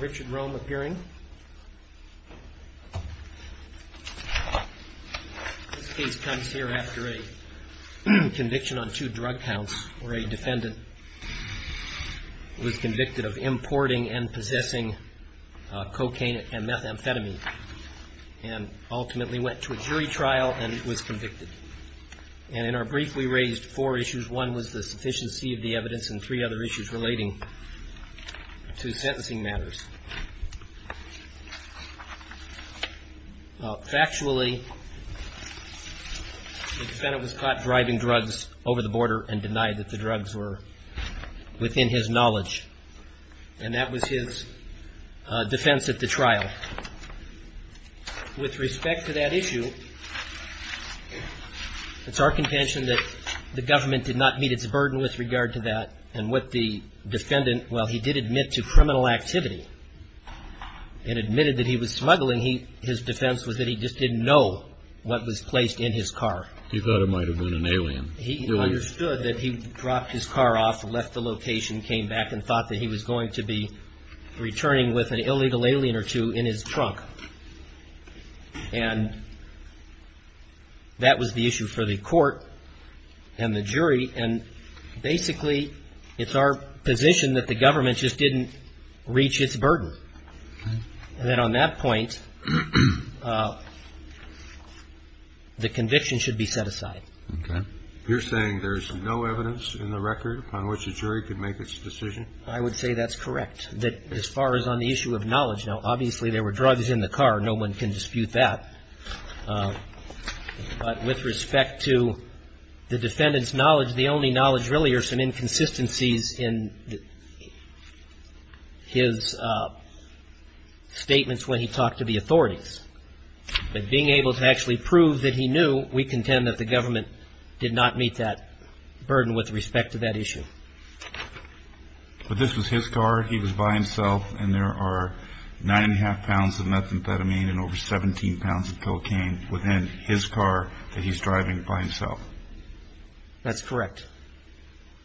Richard Rome appearing. This case comes here after a conviction on two drug counts where a defendant was convicted of importing and possessing cocaine and methamphetamine and ultimately went to a jury trial and was convicted. And in our brief, we raised four issues. One was the sufficiency of the evidence and three other issues relating to sentencing matters. Factually, the defendant was caught driving drugs over the border and denied that the drugs were within his knowledge. And that was his defense at the trial. Now, with respect to that issue, it's our contention that the government did not meet its burden with regard to that and what the defendant, while he did admit to criminal activity and admitted that he was smuggling, his defense was that he just didn't know what was placed in his car. He thought it might have been an alien. He understood that he dropped his car off, left the location, came back and thought that he was going to be returning with an illegal alien or two in his trunk. And that was the issue for the court and the jury. And basically, it's our position that the government just didn't reach its burden. And then on that point, the conviction should be set aside. Okay. You're saying there's no evidence in the record upon which a jury could make its decision? I would say that's correct, that as far as on the issue of knowledge. Now, obviously, there were drugs in the car. No one can dispute that. But with respect to the defendant's knowledge, the only knowledge really are some inconsistencies in his statements when he talked to the authorities. But being able to actually prove that he knew, we contend that the government did not meet that burden with respect to that issue. But this was his car. He was by himself. And there are nine and a half pounds of methamphetamine and over 17 pounds of cocaine within his car that he's driving by himself. That's correct.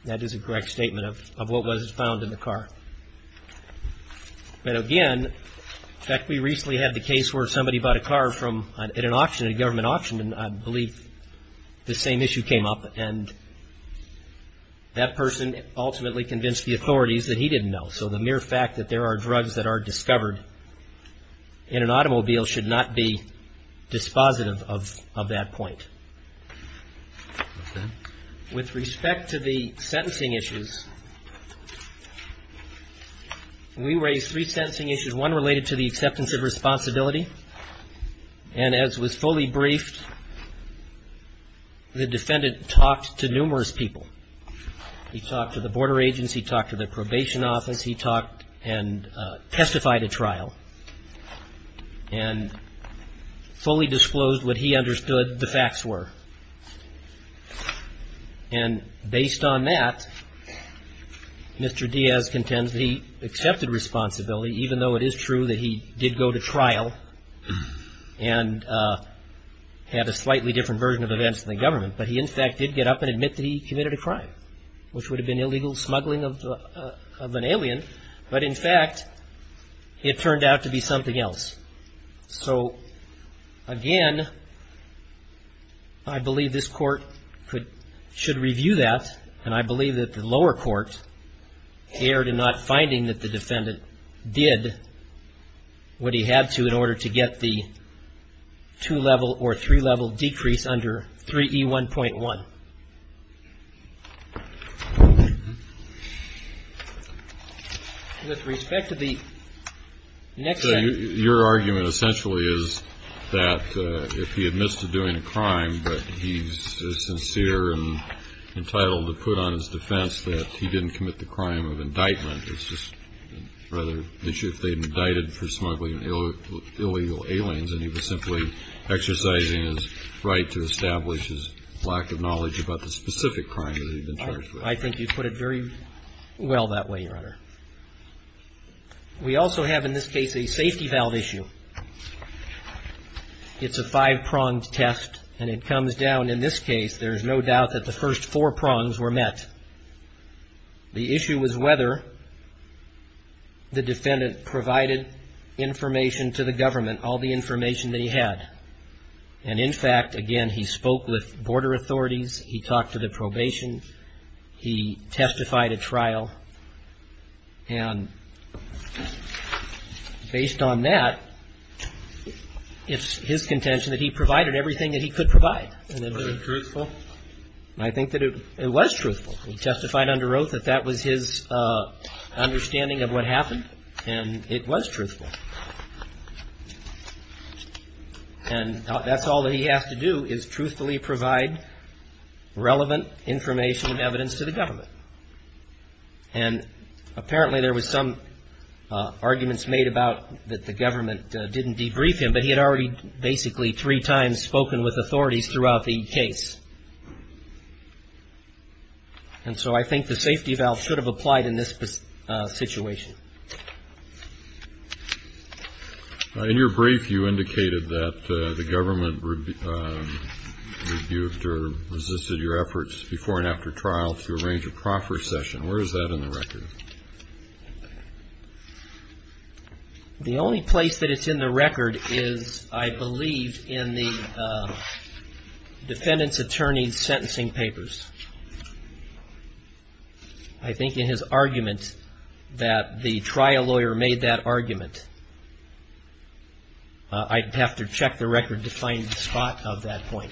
That is a correct statement of what was found in the car. But again, in fact, we recently had the case where somebody bought a car at an auction, a government auction, and I believe the same issue came up. And that person ultimately convinced the authorities that he didn't know. So the mere fact that there are drugs that are discovered in an automobile should not be dispositive of that point. With respect to the sentencing issues, we raised three sentencing issues, one related to the acceptance of responsibility. And as was fully briefed, the defendant talked to numerous people. He talked to the border agents. He talked to the probation office. He talked and testified at trial and fully disclosed what he understood the facts were. And based on that, Mr. Diaz contends that he accepted responsibility, even though it is true that he did go to trial and had a slightly different version of events in the government. But he, in fact, did get up and admit that he committed a crime, which would have been illegal smuggling of an alien. But in fact, it turned out to be something else. So, again, I believe this court should review that, and I believe that the lower court erred in not finding that the defendant did what he had to in order to get the two-level or three-level decrease under 3E1.1. With respect to the next sentence. Your argument essentially is that if he admits to doing a crime, but he's sincere and entitled to put on his defense that he didn't commit the crime of indictment. It's just rather an issue if they've indicted for smuggling illegal aliens, and he was simply exercising his right to establish his lack of knowledge about the specific crime that he'd been charged with. I think you put it very well that way, Your Honor. We also have, in this case, a safety valve issue. It's a five-pronged test, and it comes down, in this case, there's no doubt that the first four prongs were met. The issue was whether the defendant provided information to the government, all the information that he had. And, in fact, again, he spoke with border authorities. He talked to the probation. He testified at trial. And based on that, it's his contention that he provided everything that he could provide. Was it truthful? I think that it was truthful. He testified under oath that that was his understanding of what happened, and it was truthful. And that's all that he has to do is truthfully provide relevant information and evidence to the government. And apparently there was some arguments made about that the government didn't debrief him, but he had already basically three times spoken with authorities throughout the case. And so I think the safety valve should have applied in this situation. In your brief, you indicated that the government rebuked or resisted your efforts before and after trial to arrange a proffer session. Where is that in the record? The only place that it's in the record is, I believe, in the defendant's attorney's sentencing papers. I think in his argument that the trial lawyer made that argument, I'd have to check the record to find the spot of that point.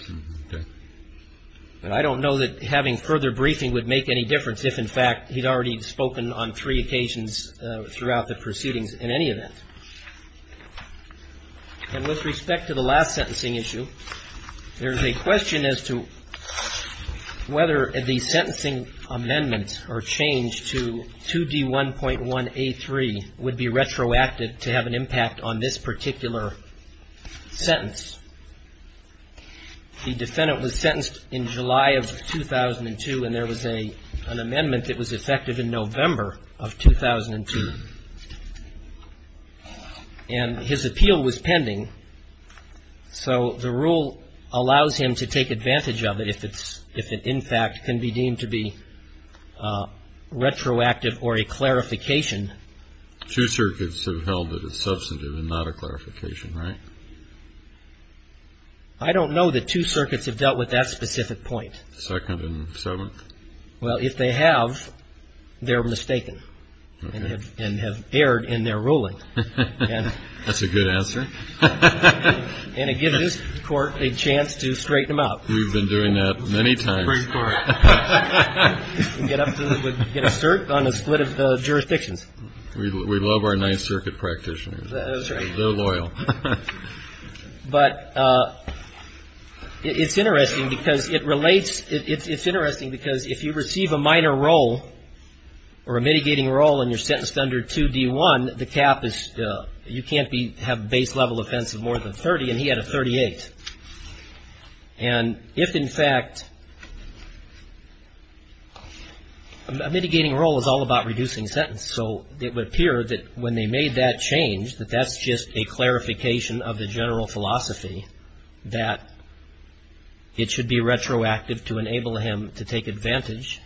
And I don't know that having further briefing would make any difference if, in fact, he'd already spoken on three occasions throughout the proceedings in any event. And with respect to the last sentencing issue, there's a question as to whether the sentencing amendments or change to 2D1.1A3 would be retroactive to have an impact on this particular sentence. The defendant was sentenced in July of 2002, and there was an amendment that was effective in November of 2002. And his appeal was pending. So the rule allows him to take advantage of it if it, in fact, can be deemed to be retroactive or a clarification. Two circuits have held that it's substantive and not a clarification, right? I don't know that two circuits have dealt with that specific point. Second and seventh? Well, if they have, they're mistaken and have erred in their ruling. That's a good answer. And it gives this Court a chance to straighten them out. We've been doing that many times. Get a cert on a split of jurisdictions. We love our Ninth Circuit practitioners. They're loyal. But it's interesting because it relates. It's interesting because if you receive a minor role or a mitigating role and you're sentenced under 2D1, the cap is, you can't have base-level offense of more than 30, and he had a 38. And if, in fact, a mitigating role is all about reducing sentence, so it would appear that when they made that change, that that's just a clarification of the general philosophy that it should be retroactive to enable him to take advantage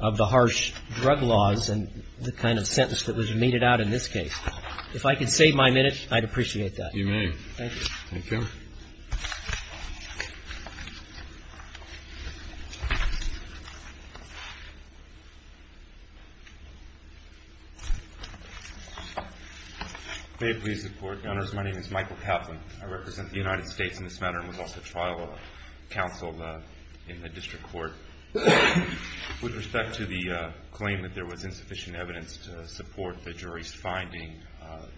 of the harsh drug laws and the kind of sentence that was meted out in this case. If I could save my minute, I'd appreciate that. You may. Thank you. Thank you. May it please the Court. Your Honors, my name is Michael Kaplan. I represent the United States in this matter and was also trial counsel in the district court. With respect to the claim that there was insufficient evidence to support the jury's finding,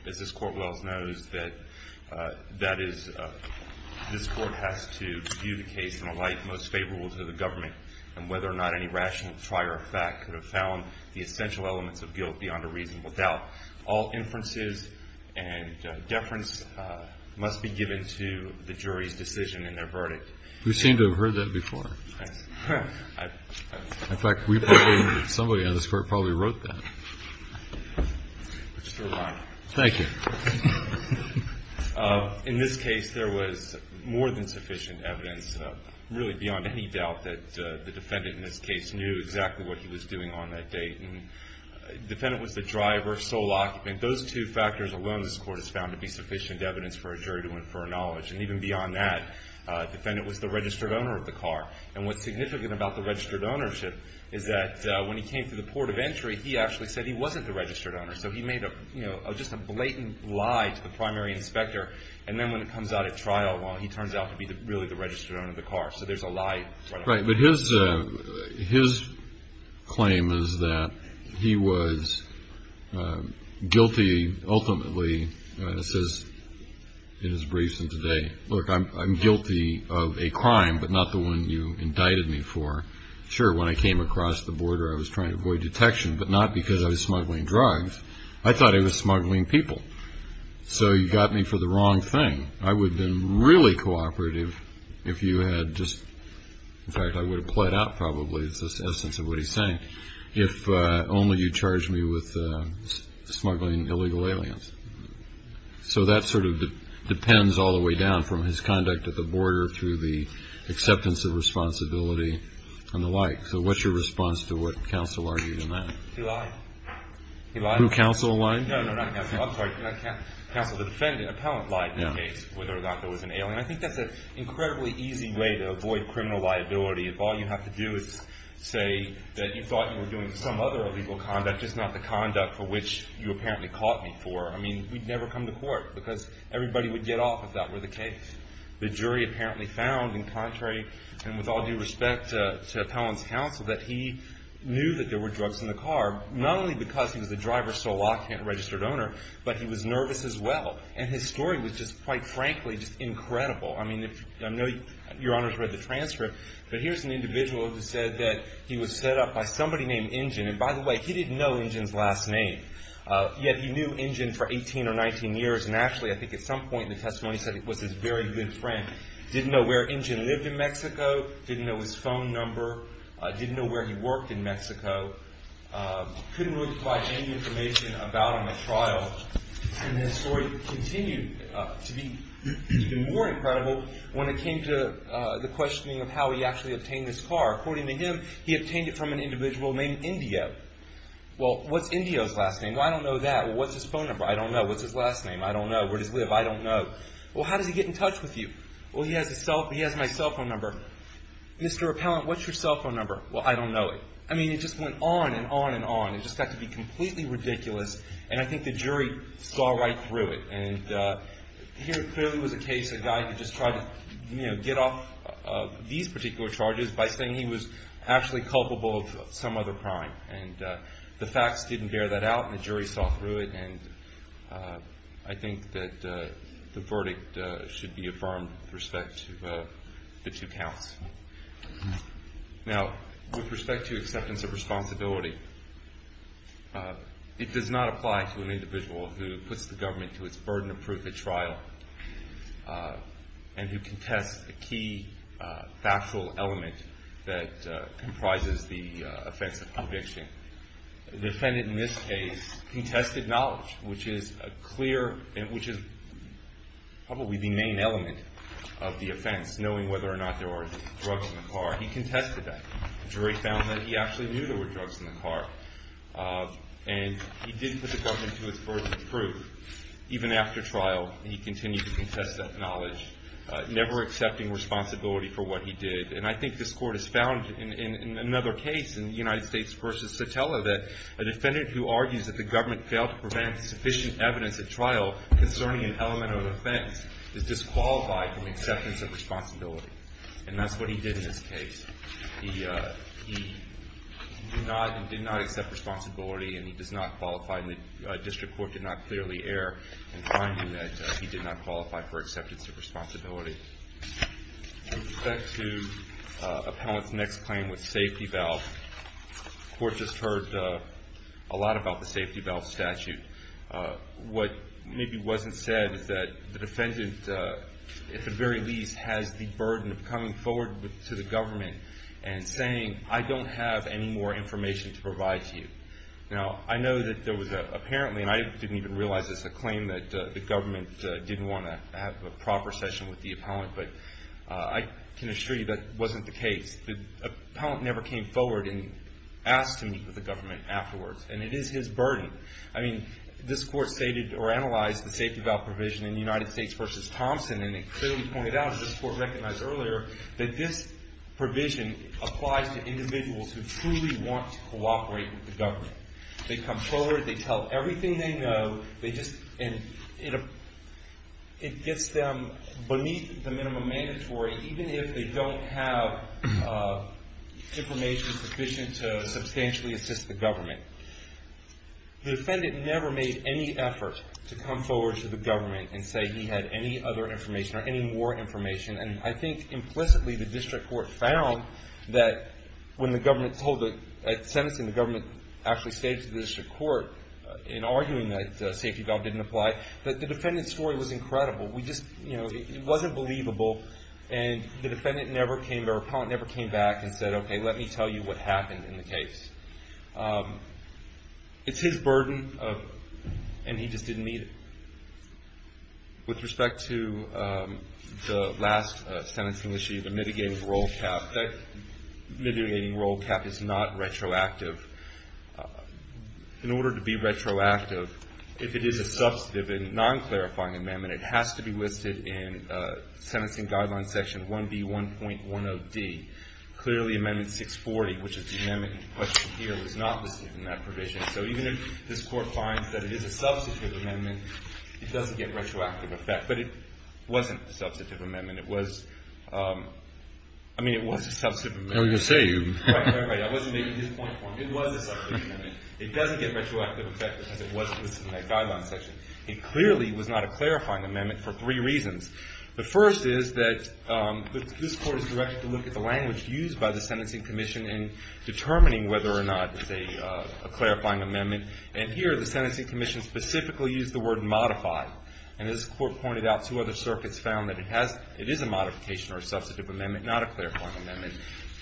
as this Court well knows, that is, this Court has to view the case in a light most favorable to the government and whether or not any rational trier of fact could have found the essential elements of guilt beyond a reasonable doubt. All inferences and deference must be given to the jury's decision in their verdict. You seem to have heard that before. Yes. In fact, we probably, somebody on this Court probably wrote that. It's still alive. Thank you. In this case, there was more than sufficient evidence, really beyond any doubt, that the defendant in this case knew exactly what he was doing on that date. The defendant was the driver, sole occupant. Those two factors alone this Court has found to be sufficient evidence for a jury to infer knowledge. And even beyond that, the defendant was the registered owner of the car. And what's significant about the registered ownership is that when he came to the port of entry, he actually said he wasn't the registered owner. So he made just a blatant lie to the primary inspector. And then when it comes out at trial, well, he turns out to be really the registered owner of the car. So there's a lie. Right. But his claim is that he was guilty, ultimately, says in his briefs in today, look, I'm guilty of a crime, but not the one you indicted me for. Sure, when I came across the border, I was trying to avoid detection, but not because I was smuggling drugs. I thought I was smuggling people. So you got me for the wrong thing. I would have been really cooperative if you had just, in fact, I would have played out probably, is the essence of what he's saying, if only you charged me with smuggling illegal aliens. So that sort of depends all the way down from his conduct at the border through the acceptance of responsibility and the like. So what's your response to what counsel argued in that? He lied. He lied? Who, counsel lied? No, no, not counsel. I'm sorry. Counsel, the defendant, appellant, lied in the case whether or not there was an alien. I think that's an incredibly easy way to avoid criminal liability if all you have to do is say that you thought you were doing some other illegal conduct, just not the conduct for which you apparently caught me for. I mean, we'd never come to court because everybody would get off if that were the case. The jury apparently found, in contrary and with all due respect to appellant's counsel, that he knew that there were drugs in the car, not only because he was a driver, sole occupant, registered owner, but he was nervous as well. And his story was just, quite frankly, just incredible. I mean, I know your Honor's read the transcript, but here's an individual who said that he was set up by somebody named Injun. And by the way, he didn't know Injun's last name, yet he knew Injun for 18 or 19 years. And actually, I think at some point in the testimony, he said it was his very good friend. Didn't know where Injun lived in Mexico, didn't know his phone number, didn't know where he worked in Mexico. Couldn't really provide any information about him at trial. And his story continued to be even more incredible when it came to the questioning of how he actually obtained this car. According to him, he obtained it from an individual named Indio. Well, what's Indio's last name? Well, I don't know that. Well, what's his phone number? I don't know. What's his last name? I don't know. Where does he live? I don't know. Well, how does he get in touch with you? Well, he has my cell phone number. Mr. Appellant, what's your cell phone number? Well, I don't know it. I mean, it just went on and on and on. It just got to be completely ridiculous. And I think the jury saw right through it. And here clearly was a case of a guy who just tried to get off these particular charges by saying he was actually culpable of some other crime. And the facts didn't bear that out, and the jury saw through it. And I think that the verdict should be affirmed with respect to the two counts. Now, with respect to acceptance of responsibility, it does not apply to an individual who puts the government to its burden of proof at trial and who contests a key factual element that comprises the offense of conviction. The defendant in this case contested knowledge, which is probably the main element of the offense, knowing whether or not there were drugs in the car. He contested that. The jury found that he actually knew there were drugs in the car. And he didn't put the government to its burden of proof. Even after trial, he continued to contest that knowledge, never accepting responsibility for what he did. And I think this court has found in another case, in the United States v. Sotelo, that a defendant who argues that the government failed to prevent sufficient evidence at trial concerning an element of an offense is disqualified from acceptance of responsibility. And that's what he did in this case. He did not accept responsibility, and he does not qualify. And the district court did not clearly err in finding that he did not qualify for acceptance of responsibility. With respect to Appellant's next claim with safety valve, the court just heard a lot about the safety valve statute. What maybe wasn't said is that the defendant, at the very least, has the burden of coming forward to the government and saying, I don't have any more information to provide to you. Now, I know that there was apparently, and I didn't even realize this, a claim that the government didn't want to have a proper session with the appellant, but I can assure you that wasn't the case. The appellant never came forward and asked to meet with the government afterwards. And it is his burden. I mean, this court stated or analyzed the safety valve provision in the United States v. Thompson, and it clearly pointed out, as this court recognized earlier, that this provision applies to individuals who truly want to cooperate with the government. They come forward. They tell everything they know. It gets them beneath the minimum mandatory, even if they don't have information sufficient to substantially assist the government. The defendant never made any effort to come forward to the government and say he had any other information or any more information. And I think implicitly the district court found that when the government told the sentencing, the government actually stated to the district court in arguing that the safety valve didn't apply, that the defendant's story was incredible. We just, you know, it wasn't believable. And the defendant never came, or the appellant never came back and said, okay, let me tell you what happened in the case. It's his burden, and he just didn't meet it. With respect to the last sentencing issue, the mitigating roll cap, that mitigating roll cap is not retroactive. In order to be retroactive, if it is a substantive and non-clarifying amendment, it has to be listed in Sentencing Guidelines Section 1B1.10d. Clearly, Amendment 640, which is the amendment in question here, is not listed in that provision. So even if this court finds that it is a substantive amendment, it doesn't get retroactive effect. But it wasn't a substantive amendment. I mean, it was a substantive amendment. I was going to say. Right, right, right. I wasn't making this point. It was a substantive amendment. It doesn't get retroactive effect because it wasn't listed in that Guidelines Section. It clearly was not a clarifying amendment for three reasons. The first is that this court is directed to look at the language used by the Sentencing Commission in determining whether or not it's a clarifying amendment. And here the Sentencing Commission specifically used the word modified. And this court pointed out two other circuits found that it is a modification or a substantive amendment, not a clarifying amendment.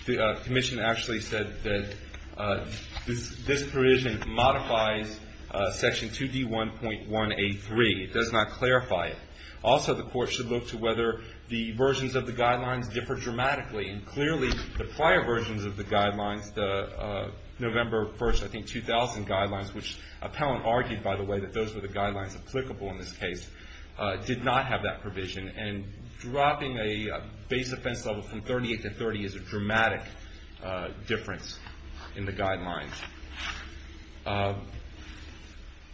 The Commission actually said that this provision modifies Section 2D1.183. It does not clarify it. Also, the court should look to whether the versions of the Guidelines differ dramatically. And clearly, the prior versions of the Guidelines, the November 1st, I think, 2000 Guidelines, which Appellant argued, by the way, that those were the Guidelines applicable in this case, did not have that provision. And dropping a base offense level from 38 to 30 is a dramatic difference in the Guidelines.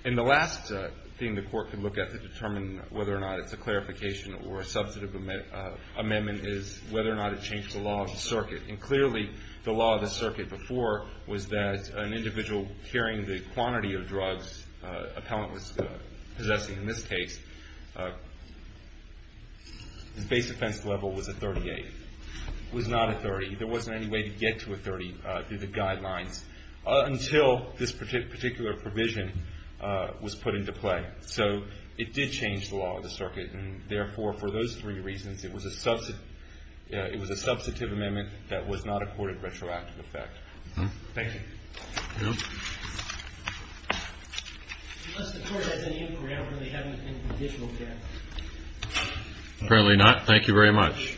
And the last thing the court could look at to determine whether or not it's a clarification or a substantive amendment is whether or not it changed the law of the circuit. And clearly, the law of the circuit before was that an individual carrying the quantity of drugs Appellant was possessing in this case, his base offense level was a 38. It was not a 30. There wasn't any way to get to a 30 through the Guidelines until this particular provision was put into play. And therefore, for those three reasons, it was a substantive amendment that was not a court of retroactive effect. Thank you. Apparently not. Thank you very much.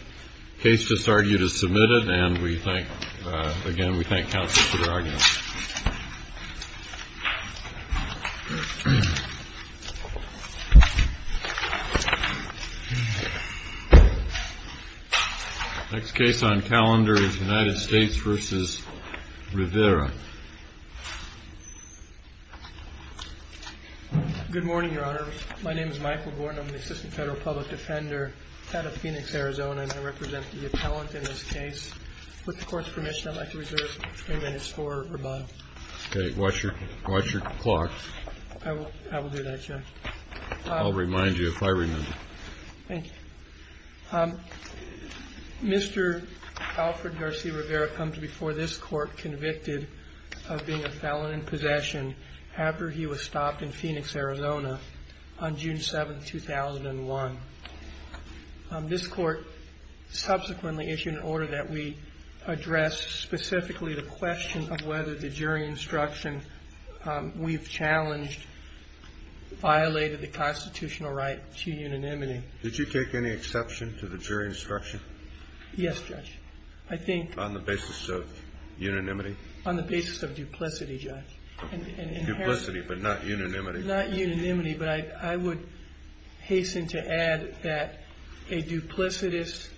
Case just argued is submitted. And we thank again, we thank counsel for their argument. Next case on calendar is United States versus Rivera. Good morning, Your Honor. My name is Michael Gordon. I'm an assistant federal public defender out of Phoenix, Arizona. And I represent the Appellant in this case. With the court's permission, I'd like to reserve three minutes for rebuttal. Okay. Watch your clock. I will do that, Your Honor. I'll remind you if I remember. Thank you. Mr. Alfred Garcia Rivera comes before this court convicted of being a felon in possession after he was stopped in Phoenix, Arizona on June 7, 2001. This court subsequently issued an order that we address specifically the question of whether the jury instruction we've challenged violated the constitutional right to unanimity. Did you take any exception to the jury instruction? Yes, Judge. I think. On the basis of unanimity? On the basis of duplicity, Judge. Duplicity, but not unanimity. But I would hasten to add that a duplicitous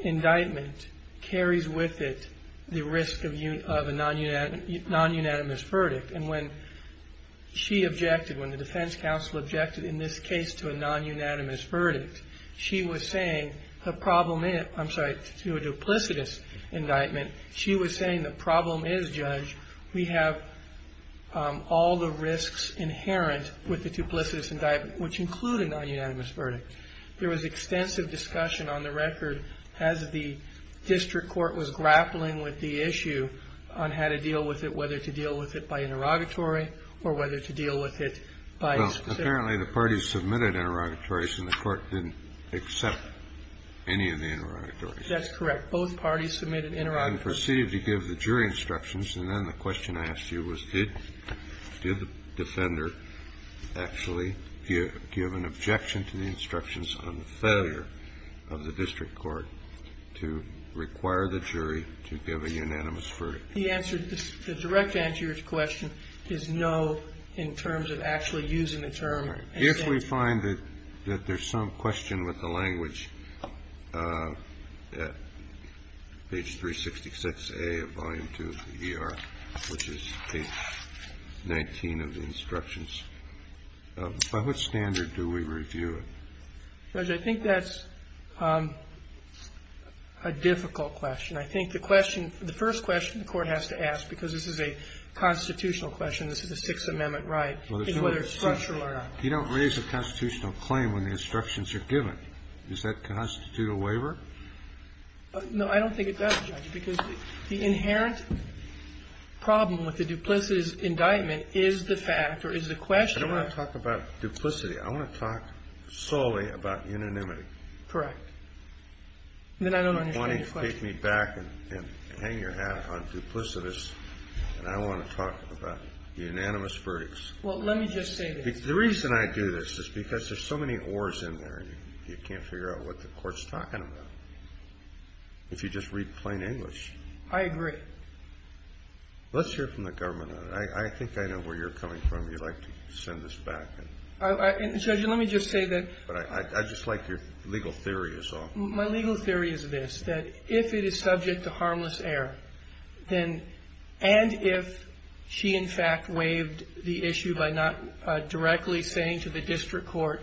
indictment carries with it the risk of a nonunanimous verdict. And when she objected, when the defense counsel objected in this case to a nonunanimous verdict, she was saying the problem is, I'm sorry, to a duplicitous indictment, she was saying the problem is, Judge, we have all the risks inherent with the duplicitous indictment, which include a nonunanimous verdict. There was extensive discussion on the record as the district court was grappling with the issue on how to deal with it, whether to deal with it by interrogatory or whether to deal with it by specific. Well, apparently the parties submitted interrogatories and the court didn't accept any of the interrogatories. That's correct. Both parties submitted interrogatories. I can proceed to give the jury instructions. And then the question I asked you was did the defender actually give an objection to the instructions on the failure of the district court to require the jury to give a unanimous verdict? The direct answer to your question is no in terms of actually using the term. All right. If we find that there's some question with the language at page 366A of volume 2 of the ER, which is page 19 of the instructions, by what standard do we review it? Judge, I think that's a difficult question. I think the question, the first question the court has to ask, because this is a constitutional question, this is a Sixth Amendment right, is whether it's structural or not. You don't raise a constitutional claim when the instructions are given. Does that constitute a waiver? No, I don't think it does, Judge, because the inherent problem with the duplicitous indictment is the fact or is the question. I don't want to talk about duplicity. I want to talk solely about unanimity. Correct. Then I don't understand your question. You want to take me back and hang your hat on duplicitous, and I want to talk about unanimous verdicts. Well, let me just say this. The reason I do this is because there's so many ors in there, and you can't figure out what the court's talking about if you just read plain English. I agree. Let's hear from the government on it. I think I know where you're coming from. You'd like to send this back. And, Judge, let me just say that. I just like your legal theory is all. My legal theory is this, that if it is subject to harmless error, then and if she, in fact, waived the issue by not directly saying to the district court,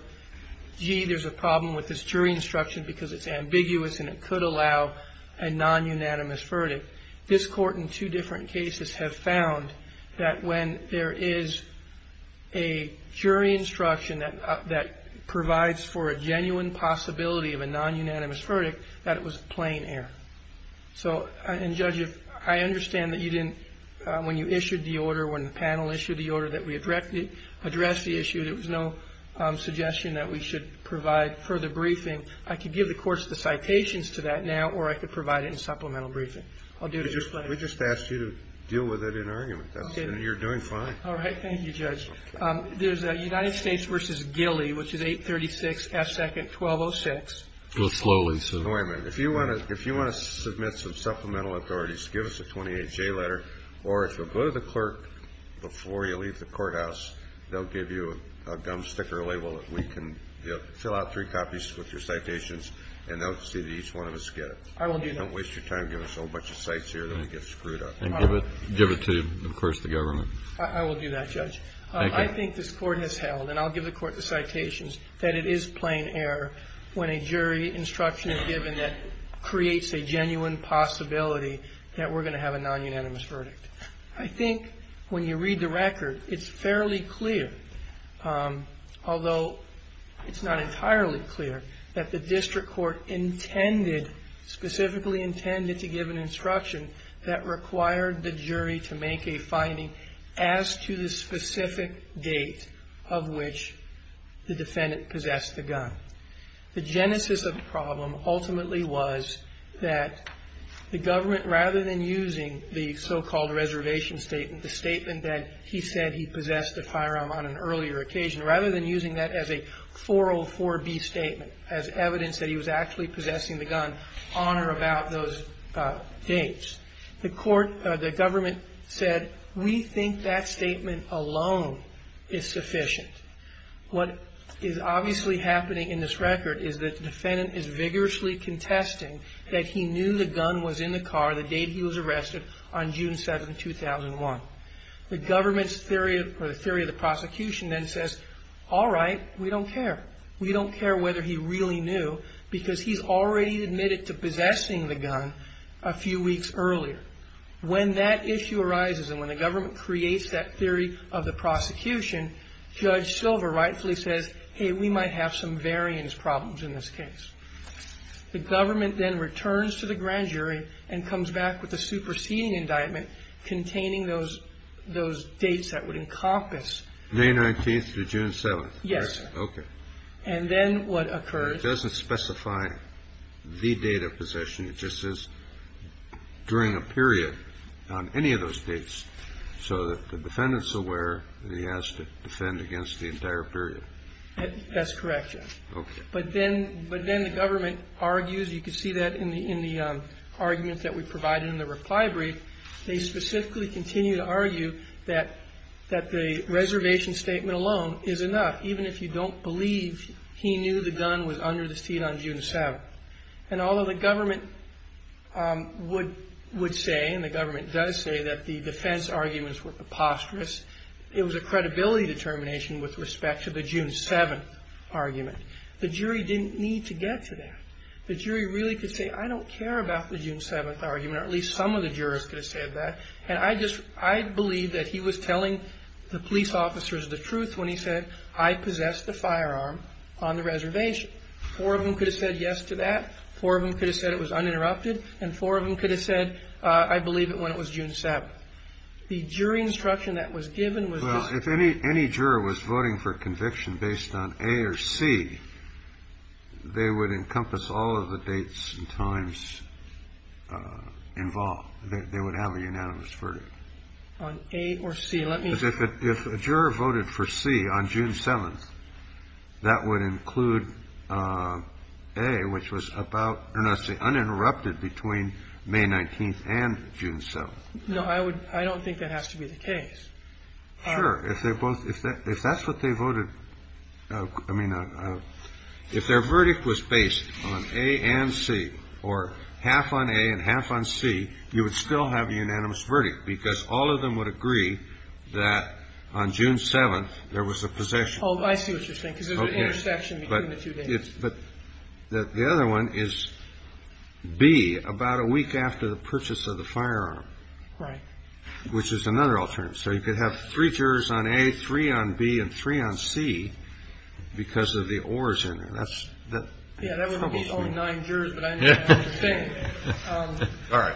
gee, there's a problem with this jury instruction because it's ambiguous and it could allow a nonunanimous verdict, this court in two different cases have found that when there is a jury instruction that provides for a genuine possibility of a nonunanimous verdict, that it was plain error. So, and, Judge, I understand that you didn't, when you issued the order, when the panel issued the order that we addressed the issue, there was no suggestion that we should provide further briefing. I could give the courts the citations to that now or I could provide it in supplemental briefing. We just asked you to deal with it in argument, though. You're doing fine. All right. Thank you, Judge. There's a United States v. Gilly, which is 836F2-1206. Go slowly, sir. Wait a minute. If you want to submit some supplemental authorities, give us a 28-J letter, or if you'll go to the clerk before you leave the courthouse, they'll give you a gum sticker label that we can fill out three copies with your citations, and they'll see that each one of us get it. I will do that. Don't waste your time giving us a whole bunch of cites here that we get screwed up. And give it to, of course, the government. I will do that, Judge. Thank you. I think this Court has held, and I'll give the Court the citations, that it is plain error when a jury instruction is given that creates a genuine possibility that we're going to have a nonunanimous verdict. I think when you read the record, it's fairly clear, although it's not entirely clear, that the district court intended, specifically intended to give an instruction that required the jury to make a finding as to the specific date of which the defendant possessed the gun. The genesis of the problem ultimately was that the government, rather than using the so-called reservation statement, the statement that he said he possessed the firearm on an earlier occasion, rather than using that as a 404B statement as evidence that he was actually possessing the gun on or about those dates, the court, the government said, we think that statement alone is sufficient. What is obviously happening in this record is that the defendant is vigorously contesting that he knew the gun was in the car the date he was arrested, on June 7, 2001. The government's theory, or the theory of the prosecution then says, all right, we don't care. We don't care whether he really knew, because he's already admitted to possessing the gun a few weeks earlier. When that issue arises and when the government creates that theory of the prosecution, Judge Silver rightfully says, hey, we might have some variance problems in this case. The government then returns to the grand jury and comes back with a superseding indictment containing those dates that would encompass. May 19th to June 7th. Yes. Okay. It doesn't specify the date of possession. It just says during a period on any of those dates. So the defendant's aware that he has to defend against the entire period. That's correct, Judge. Okay. But then the government argues, you can see that in the argument that we provided in the reply brief, they specifically continue to argue that the reservation statement alone is enough, even if you don't believe he knew the gun was under the seat on June 7th. And although the government would say and the government does say that the defense arguments were preposterous, it was a credibility determination with respect to the June 7th argument. The jury didn't need to get to that. The jury really could say, I don't care about the June 7th argument, or at least some of the jurors could have said that. And I believe that he was telling the police officers the truth when he said, I possessed the firearm on the reservation. Four of them could have said yes to that. Four of them could have said it was uninterrupted. And four of them could have said, I believe it when it was June 7th. The jury instruction that was given was just. Well, if any juror was voting for conviction based on A or C, they would encompass all of the dates and times involved. They would have a unanimous verdict. On A or C, let me. Because if a juror voted for C on June 7th, that would include A, which was about uninterrupted between May 19th and June 7th. No, I would. I don't think that has to be the case. Sure. If they both if that's what they voted. I mean, if their verdict was based on A and C or half on A and half on C, you would still have a unanimous verdict because all of them would agree that on June 7th, there was a possession. Oh, I see what you're saying. Because there's an intersection between the two dates. But the other one is B, about a week after the purchase of the firearm. Right. Which is another alternative. So you could have three jurors on A, three on B, and three on C because of the oars in there. Yeah, that would leave only nine jurors, but I know what you're saying. All right.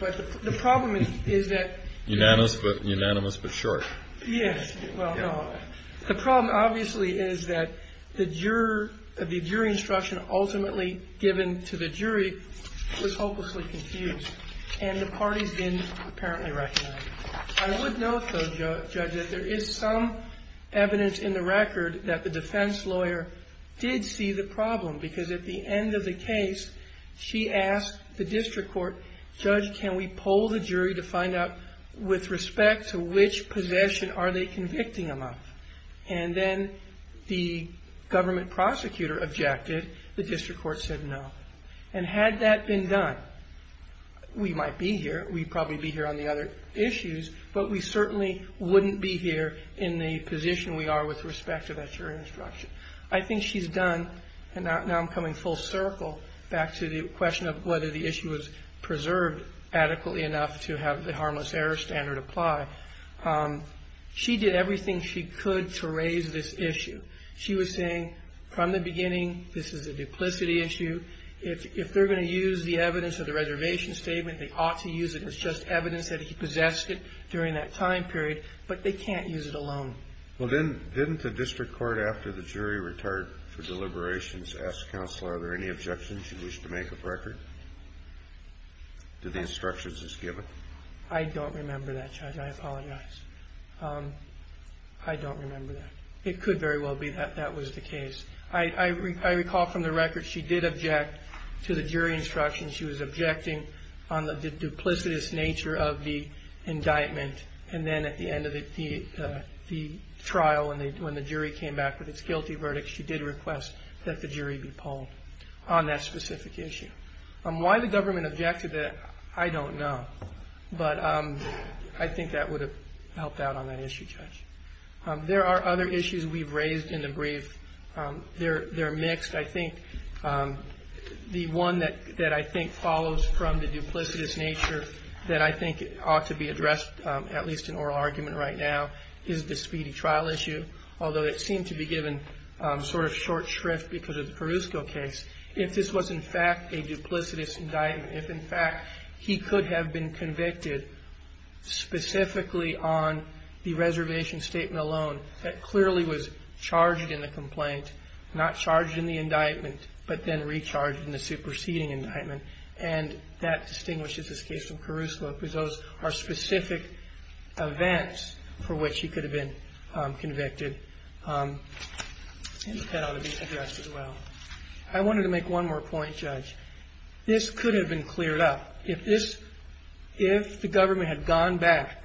But the problem is that. Unanimous but short. Yes. Well, no. The problem, obviously, is that the jury instruction ultimately given to the jury was hopelessly confused. And the parties didn't apparently recognize it. I would note, though, Judge, that there is some evidence in the record that the defense lawyer did see the problem because at the end of the case, she asked the district court, Judge, can we poll the jury to find out with respect to which possession are they convicting them of? And then the government prosecutor objected. The district court said no. And had that been done, we might be here. We'd probably be here on the other issues. But we certainly wouldn't be here in the position we are with respect to that jury instruction. I think she's done, and now I'm coming full circle back to the question of whether the issue was preserved adequately enough to have the harmless error standard apply. She did everything she could to raise this issue. She was saying from the beginning, this is a duplicity issue. If they're going to use the evidence of the reservation statement, they ought to use it as just evidence that he possessed it during that time period. But they can't use it alone. Well, didn't the district court, after the jury retired for deliberations, ask counsel, are there any objections you wish to make of record to the instructions as given? I don't remember that, Judge. I apologize. I don't remember that. It could very well be that that was the case. I recall from the record she did object to the jury instruction. She was objecting on the duplicitous nature of the indictment. And then at the end of the trial, when the jury came back with its guilty verdict, she did request that the jury be polled on that specific issue. Why the government objected to that, I don't know. But I think that would have helped out on that issue, Judge. There are other issues we've raised in the brief. They're mixed. I think the one that I think follows from the duplicitous nature that I think ought to be addressed, at least in oral argument right now, is the speedy trial issue, although it seemed to be given sort of short shrift because of the Perusco case. If this was, in fact, a duplicitous indictment, if, in fact, he could have been convicted specifically on the reservation statement alone, that clearly was charged in the complaint, not charged in the indictment, but then recharged in the superseding indictment. And that distinguishes this case from Perusco because those are specific events for which he could have been convicted. And that ought to be addressed as well. I wanted to make one more point, Judge. This could have been cleared up. If the government had gone back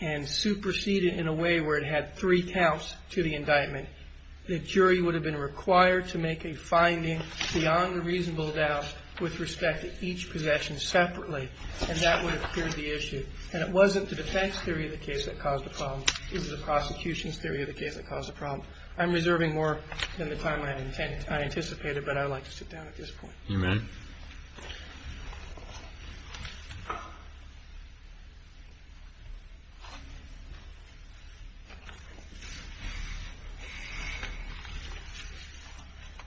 and superseded in a way where it had three counts to the indictment, the jury would have been required to make a finding beyond a reasonable doubt with respect to each possession separately, and that would have cleared the issue. And it wasn't the defense theory of the case that caused the problem. It was the prosecution's theory of the case that caused the problem. I'm reserving more than the time I anticipated, but I'd like to sit down at this point. You may.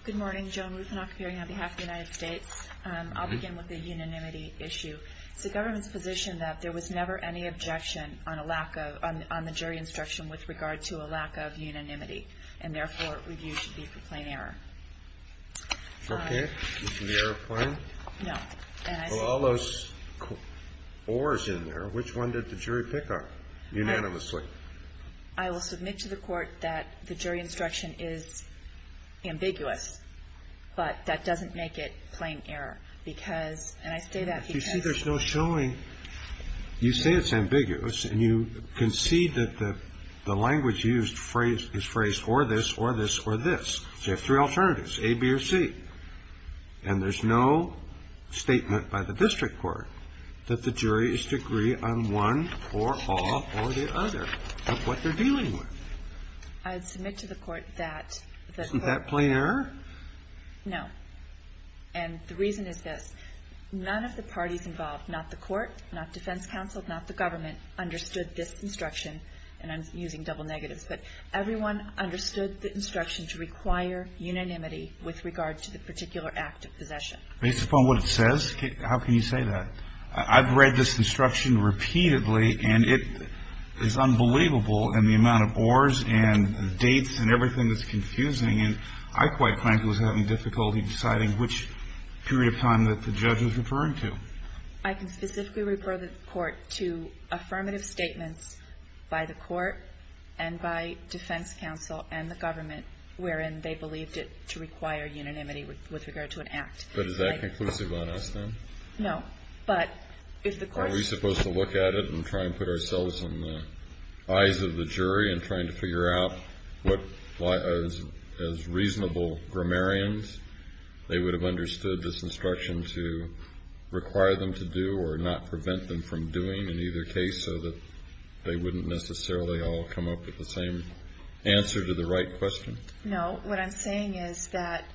Good morning. Joan Ruthenach here on behalf of the United States. I'll begin with the unanimity issue. It's the government's position that there was never any objection on the jury instruction with regard to a lack of unanimity, and therefore review should be for plain error. Okay. Is there a point? No. Well, all those or's in there, which one did the jury pick on unanimously? I will submit to the court that the jury instruction is ambiguous, but that doesn't make it plain error. Because, and I say that because. You see there's no showing. You say it's ambiguous, and you concede that the language used is phrased or this, or this, or this. So you have three alternatives, A, B, or C. And there's no statement by the district court that the jury is to agree on one or all or the other of what they're dealing with. I'd submit to the court that. Isn't that plain error? No. And the reason is this. None of the parties involved, not the court, not defense counsel, not the government, understood this instruction. And I'm using double negatives. But everyone understood the instruction to require unanimity with regard to the particular act of possession. Based upon what it says? How can you say that? I've read this instruction repeatedly, and it is unbelievable in the amount of or's and dates and everything that's confusing. And I quite frankly was having difficulty deciding which period of time that the judge was referring to. I can specifically refer the court to affirmative statements by the court and by defense counsel and the government, wherein they believed it to require unanimity with regard to an act. But is that conclusive on us then? No. But if the court. Are we supposed to look at it and try and put ourselves in the eyes of the jury and trying to figure out what, as reasonable grammarians, they would have understood this instruction to require them to do or not prevent them from doing in either case so that they wouldn't necessarily all come up with the same answer to the right question? No. What I'm saying is that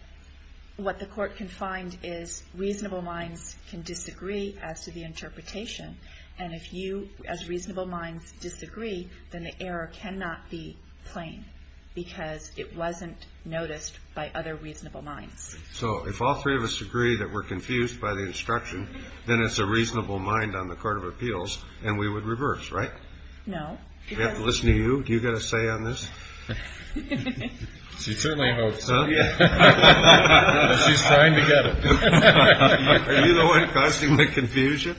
what the court can find is reasonable minds can disagree as to the interpretation. And if you as reasonable minds disagree, then the error cannot be plain because it wasn't noticed by other reasonable minds. So if all three of us agree that we're confused by the instruction, then it's a reasonable mind on the court of appeals and we would reverse, right? No. We have to listen to you. Do you get a say on this? She certainly hopes. She's trying to get it. Are you the one causing the confusion?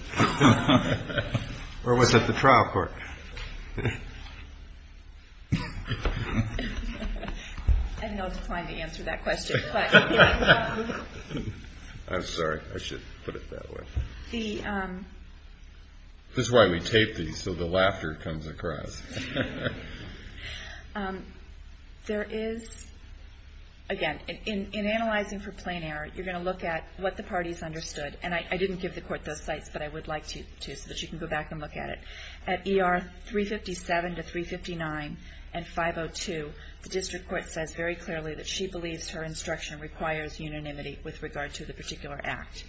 Or was it the trial court? I don't know if it's fine to answer that question. I'm sorry. I should put it that way. This is why we tape these so the laughter comes across. There is, again, in analyzing for plain error, you're going to look at what the parties understood. And I didn't give the court those sites, but I would like to so that you can go back and look at it. At ER 357 to 359 and 502, the district court says very clearly that she believes her instruction requires unanimity with regard to the particular act.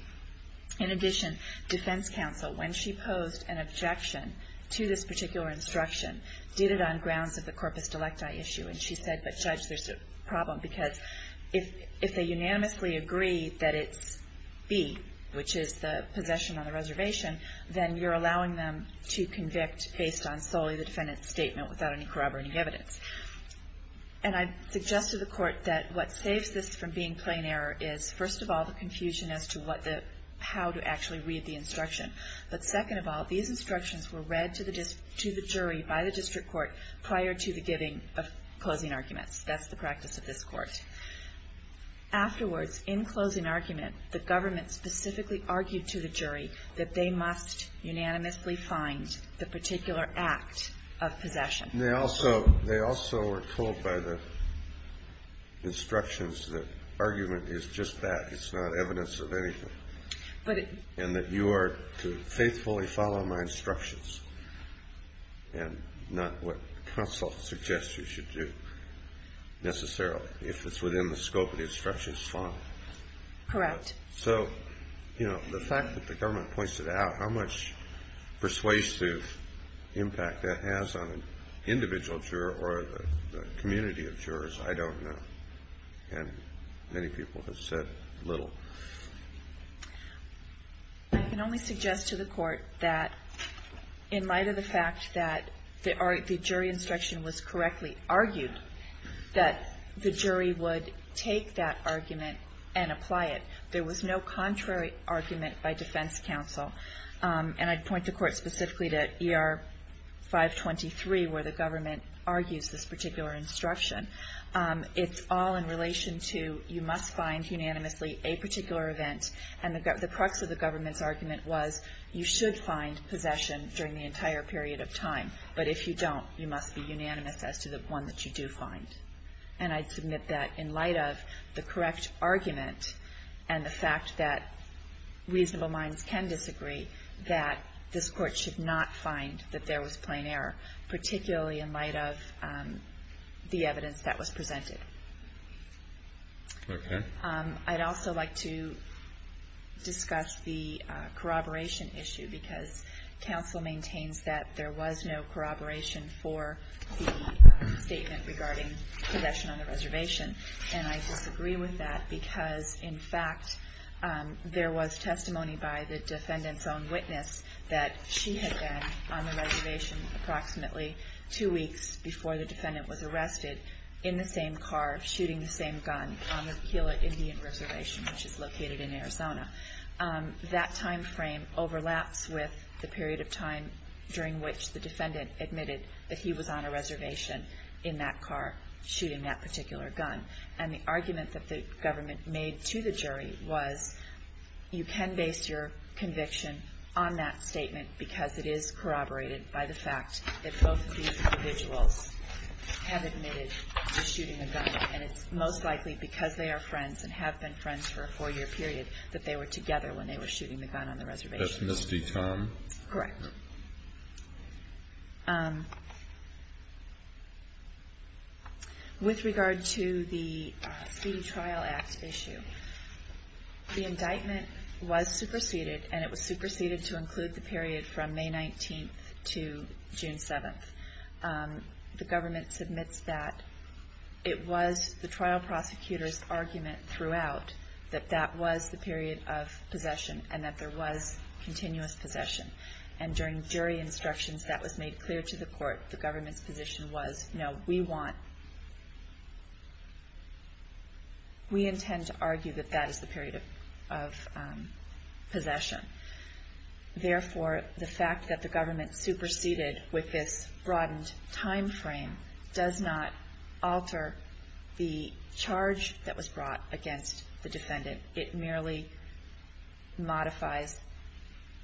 In addition, defense counsel, when she posed an objection to this particular instruction, did it on grounds of the corpus delecti issue. And she said, but Judge, there's a problem because if they unanimously agree that it's B, which is the possession on the reservation, then you're allowing them to convict based on solely the defendant's statement without any corroborating evidence. And I suggested to the court that what saves this from being plain error is, first of all, the confusion as to how to actually read the instruction. But second of all, these instructions were read to the jury by the district court prior to the giving of closing arguments. That's the practice of this court. Afterwards, in closing argument, the government specifically argued to the jury that they must unanimously find the particular act of possession. They also were told by the instructions that argument is just that. It's not evidence of anything. And that you are to faithfully follow my instructions and not what counsel suggests you should do necessarily. If it's within the scope of the instructions, fine. Correct. So, you know, the fact that the government points it out, how much persuasive impact that has on an individual juror or the community of jurors, I don't know. And many people have said little. I can only suggest to the court that in light of the fact that the jury instruction was correctly argued, that the jury would take that argument and apply it. There was no contrary argument by defense counsel. And I'd point the court specifically to ER 523 where the government argues this particular instruction. It's all in relation to you must find unanimously a particular event. And the crux of the government's argument was you should find possession during the entire period of time. But if you don't, you must be unanimous as to the one that you do find. And I'd submit that in light of the correct argument and the fact that reasonable minds can disagree, that this court should not find that there was plain error, particularly in light of the evidence that was presented. Okay. I'd also like to discuss the corroboration issue because counsel maintains that there was no corroboration for the statement regarding possession on the reservation. And I disagree with that because, in fact, there was testimony by the defendant's own witness that she had been on the reservation approximately two weeks before the defendant was arrested in the same car, shooting the same gun on the Gila Indian Reservation, which is located in Arizona. That time frame overlaps with the period of time during which the defendant admitted that he was on a reservation in that car shooting that particular gun. And the argument that the government made to the jury was you can base your conviction on that statement because it is corroborated by the fact that both of these individuals have admitted to shooting a gun. And it's most likely because they are friends and have been friends for a four-year period that they were together when they were shooting the gun on the reservation. That's Ms. D. Tom? Correct. With regard to the Speedy Trial Act issue, the indictment was superseded, and it was superseded to include the period from May 19th to June 7th. The government submits that. It was the trial prosecutor's argument throughout that that was the period of possession and that there was continuous possession. And during jury instructions, that was made clear to the court. The government's position was, no, we intend to argue that that is the period of possession. Therefore, the fact that the government superseded with this broadened timeframe does not alter the charge that was brought against the defendant. It merely modifies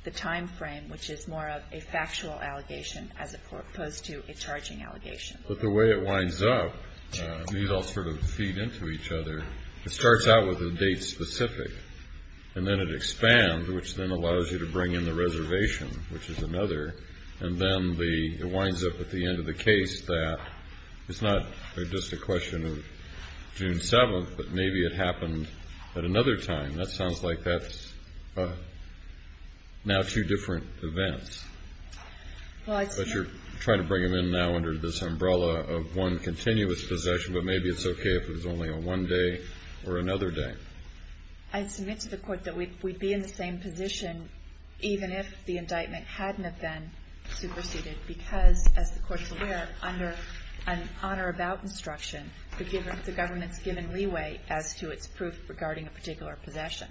the timeframe, which is more of a factual allegation as opposed to a charging allegation. But the way it winds up, these all sort of feed into each other, it starts out with a date specific, and then it expands, which then allows you to bring in the reservation, which is another. And then it winds up at the end of the case that it's not just a question of June 7th, but maybe it happened at another time. That sounds like that's now two different events. But you're trying to bring them in now under this umbrella of one continuous possession, but maybe it's okay if it was only on one day or another day. I submit to the court that we'd be in the same position even if the indictment hadn't have been superseded, because, as the court's aware, under an on or about instruction, the government's given leeway as to its proof regarding a particular possession.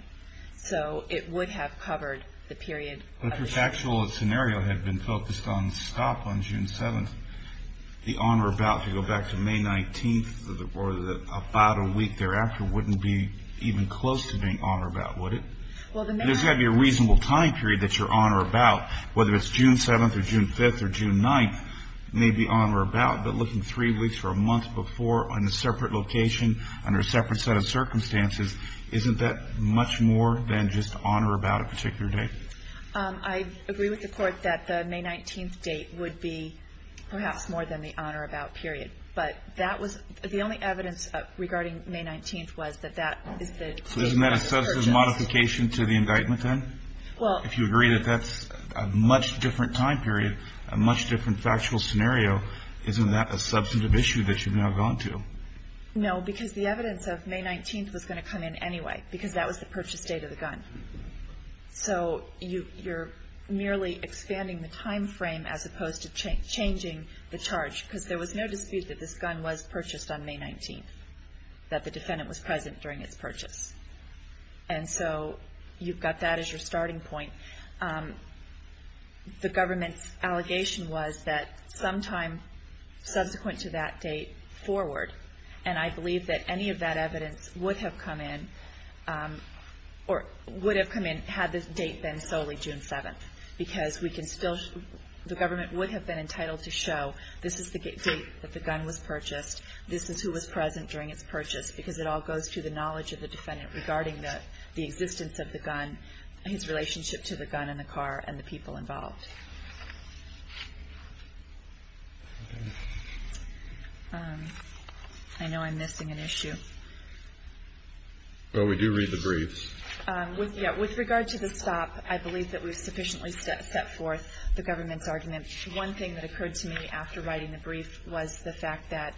So it would have covered the period. But if the actual scenario had been focused on stop on June 7th, the on or about to go back to May 19th or about a week thereafter wouldn't be even close to being on or about, would it? There's got to be a reasonable time period that you're on or about. Whether it's June 7th or June 5th or June 9th may be on or about, but looking three weeks or a month before on a separate location under a separate set of circumstances, isn't that much more than just on or about a particular date? I agree with the court that the May 19th date would be perhaps more than the on or about period. But the only evidence regarding May 19th was that that is the date of the purchase. So isn't that a substantive modification to the indictment, then? If you agree that that's a much different time period, a much different factual scenario, isn't that a substantive issue that you've now gone to? No, because the evidence of May 19th was going to come in anyway, because that was the purchase date of the gun. So you're merely expanding the time frame as opposed to changing the charge, because there was no dispute that this gun was purchased on May 19th, that the defendant was present during its purchase. And so you've got that as your starting point. The government's allegation was that sometime subsequent to that date forward, and I believe that any of that evidence would have come in had this date been solely June 7th, because the government would have been entitled to show this is the date that the gun was purchased, this is who was present during its purchase, because it all goes to the knowledge of the defendant regarding the existence of the gun, his relationship to the gun and the car, and the people involved. I know I'm missing an issue. Well, we do read the briefs. With regard to the stop, I believe that we've sufficiently set forth the government's argument. One thing that occurred to me after writing the brief was the fact that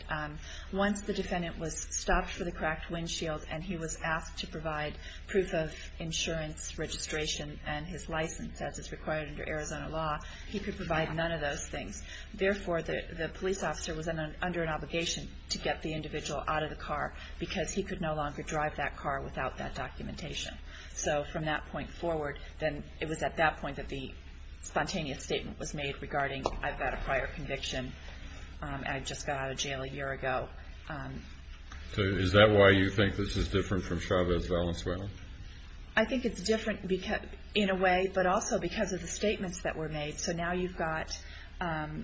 once the defendant was stopped for the cracked windshield and he was asked to provide proof of insurance registration and his license, as is required under Arizona law, he could provide none of those things. Therefore, the police officer was under an obligation to get the individual out of the car because he could no longer drive that car without that documentation. So from that point forward, then it was at that point that the spontaneous statement was made regarding I've got a prior conviction and I just got out of jail a year ago. So is that why you think this is different from Chavez-Valenzuela? I think it's different in a way, but also because of the statements that were made. So now you've got a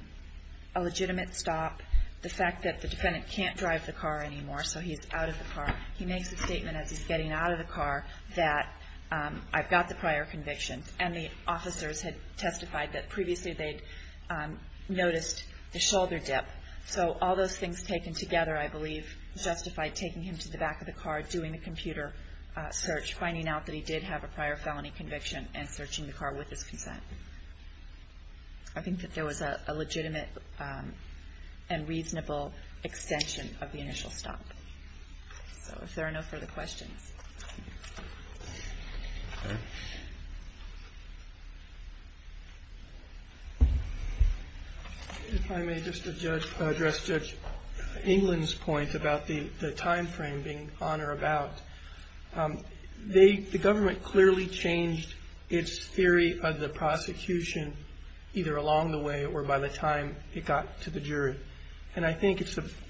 legitimate stop, the fact that the defendant can't drive the car anymore, so he's out of the car. He makes a statement as he's getting out of the car that I've got the prior conviction. And the officers had testified that previously they'd noticed the shoulder dip. So all those things taken together, I believe, justified taking him to the back of the car, doing a computer search, finding out that he did have a prior felony conviction, and searching the car with his consent. I think that there was a legitimate and reasonable extension of the initial stop. So if there are no further questions. If I may just address Judge England's point about the time frame being on or about. The government clearly changed its theory of the prosecution either along the way or by the time it got to the jury. And I think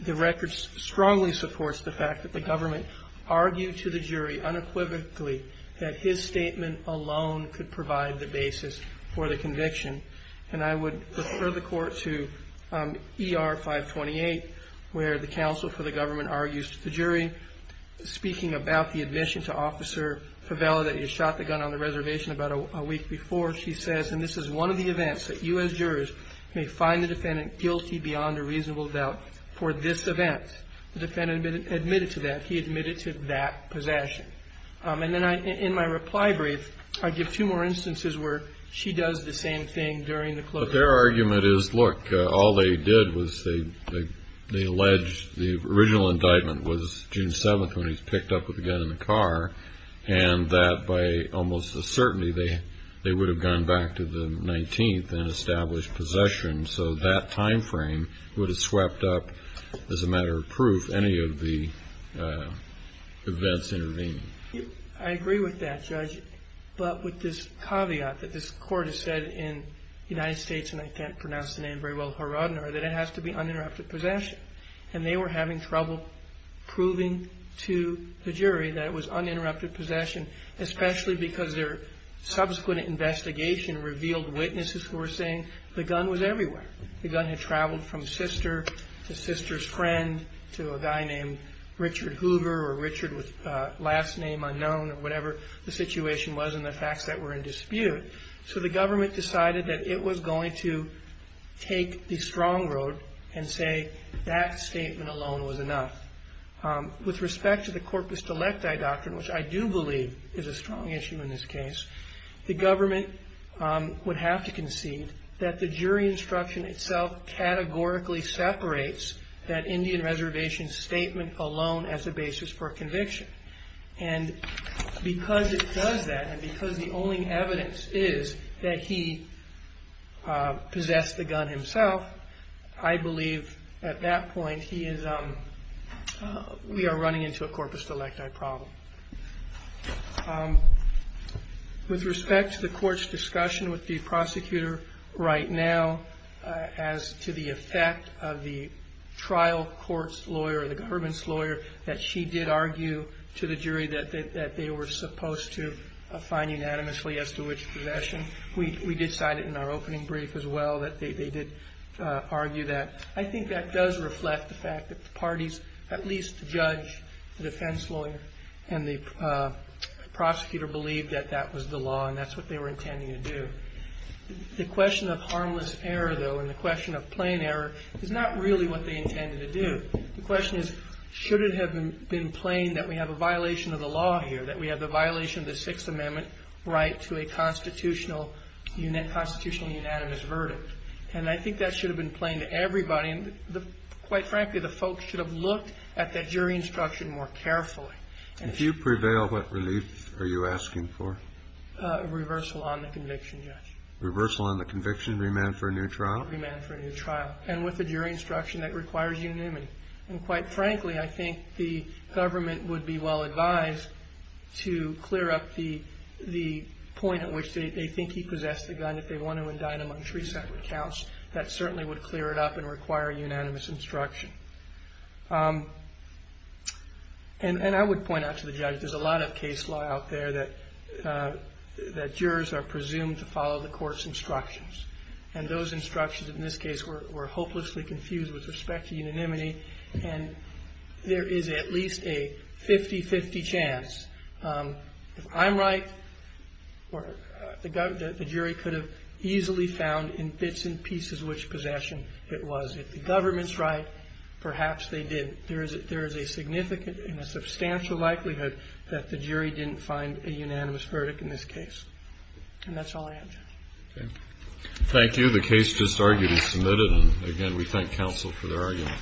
the record strongly supports the fact that the government argued to the jury unequivocally that his statement alone could provide the basis for the conviction. And I would refer the court to ER 528, where the counsel for the government argues to the jury, speaking about the admission to Officer Favela that he shot the gun on the reservation about a week before. She says, and this is one of the events that U.S. jurors may find the defendant guilty beyond a reasonable doubt for this event. The defendant admitted to that. He admitted to that possession. And then in my reply brief, I give two more instances where she does the same thing during the closure. But their argument is, look, all they did was they alleged the original indictment was June 7th when he was picked up with a gun in the car, and that by almost a certainty, they would have gone back to the 19th and established possession. So that time frame would have swept up, as a matter of proof, any of the events intervening. I agree with that, Judge. But with this caveat that this court has said in the United States, and I can't pronounce the name very well, Haradner, that it has to be uninterrupted possession. And they were having trouble proving to the jury that it was uninterrupted possession, especially because their subsequent investigation revealed witnesses who were saying the gun was everywhere. The gun had traveled from sister to sister's friend to a guy named Richard Hoover or Richard with last name unknown or whatever the situation was and the facts that were in dispute. So the government decided that it was going to take the strong road and say that statement alone was enough. With respect to the corpus delecti doctrine, which I do believe is a strong issue in this case, the government would have to concede that the jury instruction itself categorically separates that Indian Reservation statement alone as a basis for conviction. And because it does that and because the only evidence is that he possessed the gun himself, I believe at that point we are running into a corpus delecti problem. With respect to the court's discussion with the prosecutor right now as to the effect of the trial court's lawyer, the government's lawyer, that she did argue to the jury that they were supposed to find unanimously as to which possession. We decided in our opening brief as well that they did argue that. I think that does reflect the fact that the parties at least judge the defense lawyer and the prosecutor believed that that was the law and that's what they were intending to do. The question of harmless error though and the question of plain error is not really what they intended to do. The question is should it have been plain that we have a violation of the law here, that we have the violation of the Sixth Amendment right to a constitutional unanimous verdict. And I think that should have been plain to everybody. Quite frankly, the folks should have looked at that jury instruction more carefully. If you prevail, what relief are you asking for? Reversal on the conviction, Judge. Reversal on the conviction, remand for a new trial? Remand for a new trial and with a jury instruction that requires unanimity. And quite frankly, I think the government would be well advised to clear up the point at which they think he possessed a gun if they want to indict him on three separate counts. That certainly would clear it up and require unanimous instruction. And I would point out to the judge, there's a lot of case law out there that jurors are presumed to follow the court's instructions. And those instructions in this case were hopelessly confused with respect to unanimity. And there is at least a 50-50 chance. If I'm right, the jury could have easily found in bits and pieces which possession it was. If the government's right, perhaps they didn't. There is a significant and a substantial likelihood that the jury didn't find a unanimous verdict in this case. And that's all I have, Judge. Okay. Thank you. The case just argued is submitted. And, again, we thank counsel for their argument.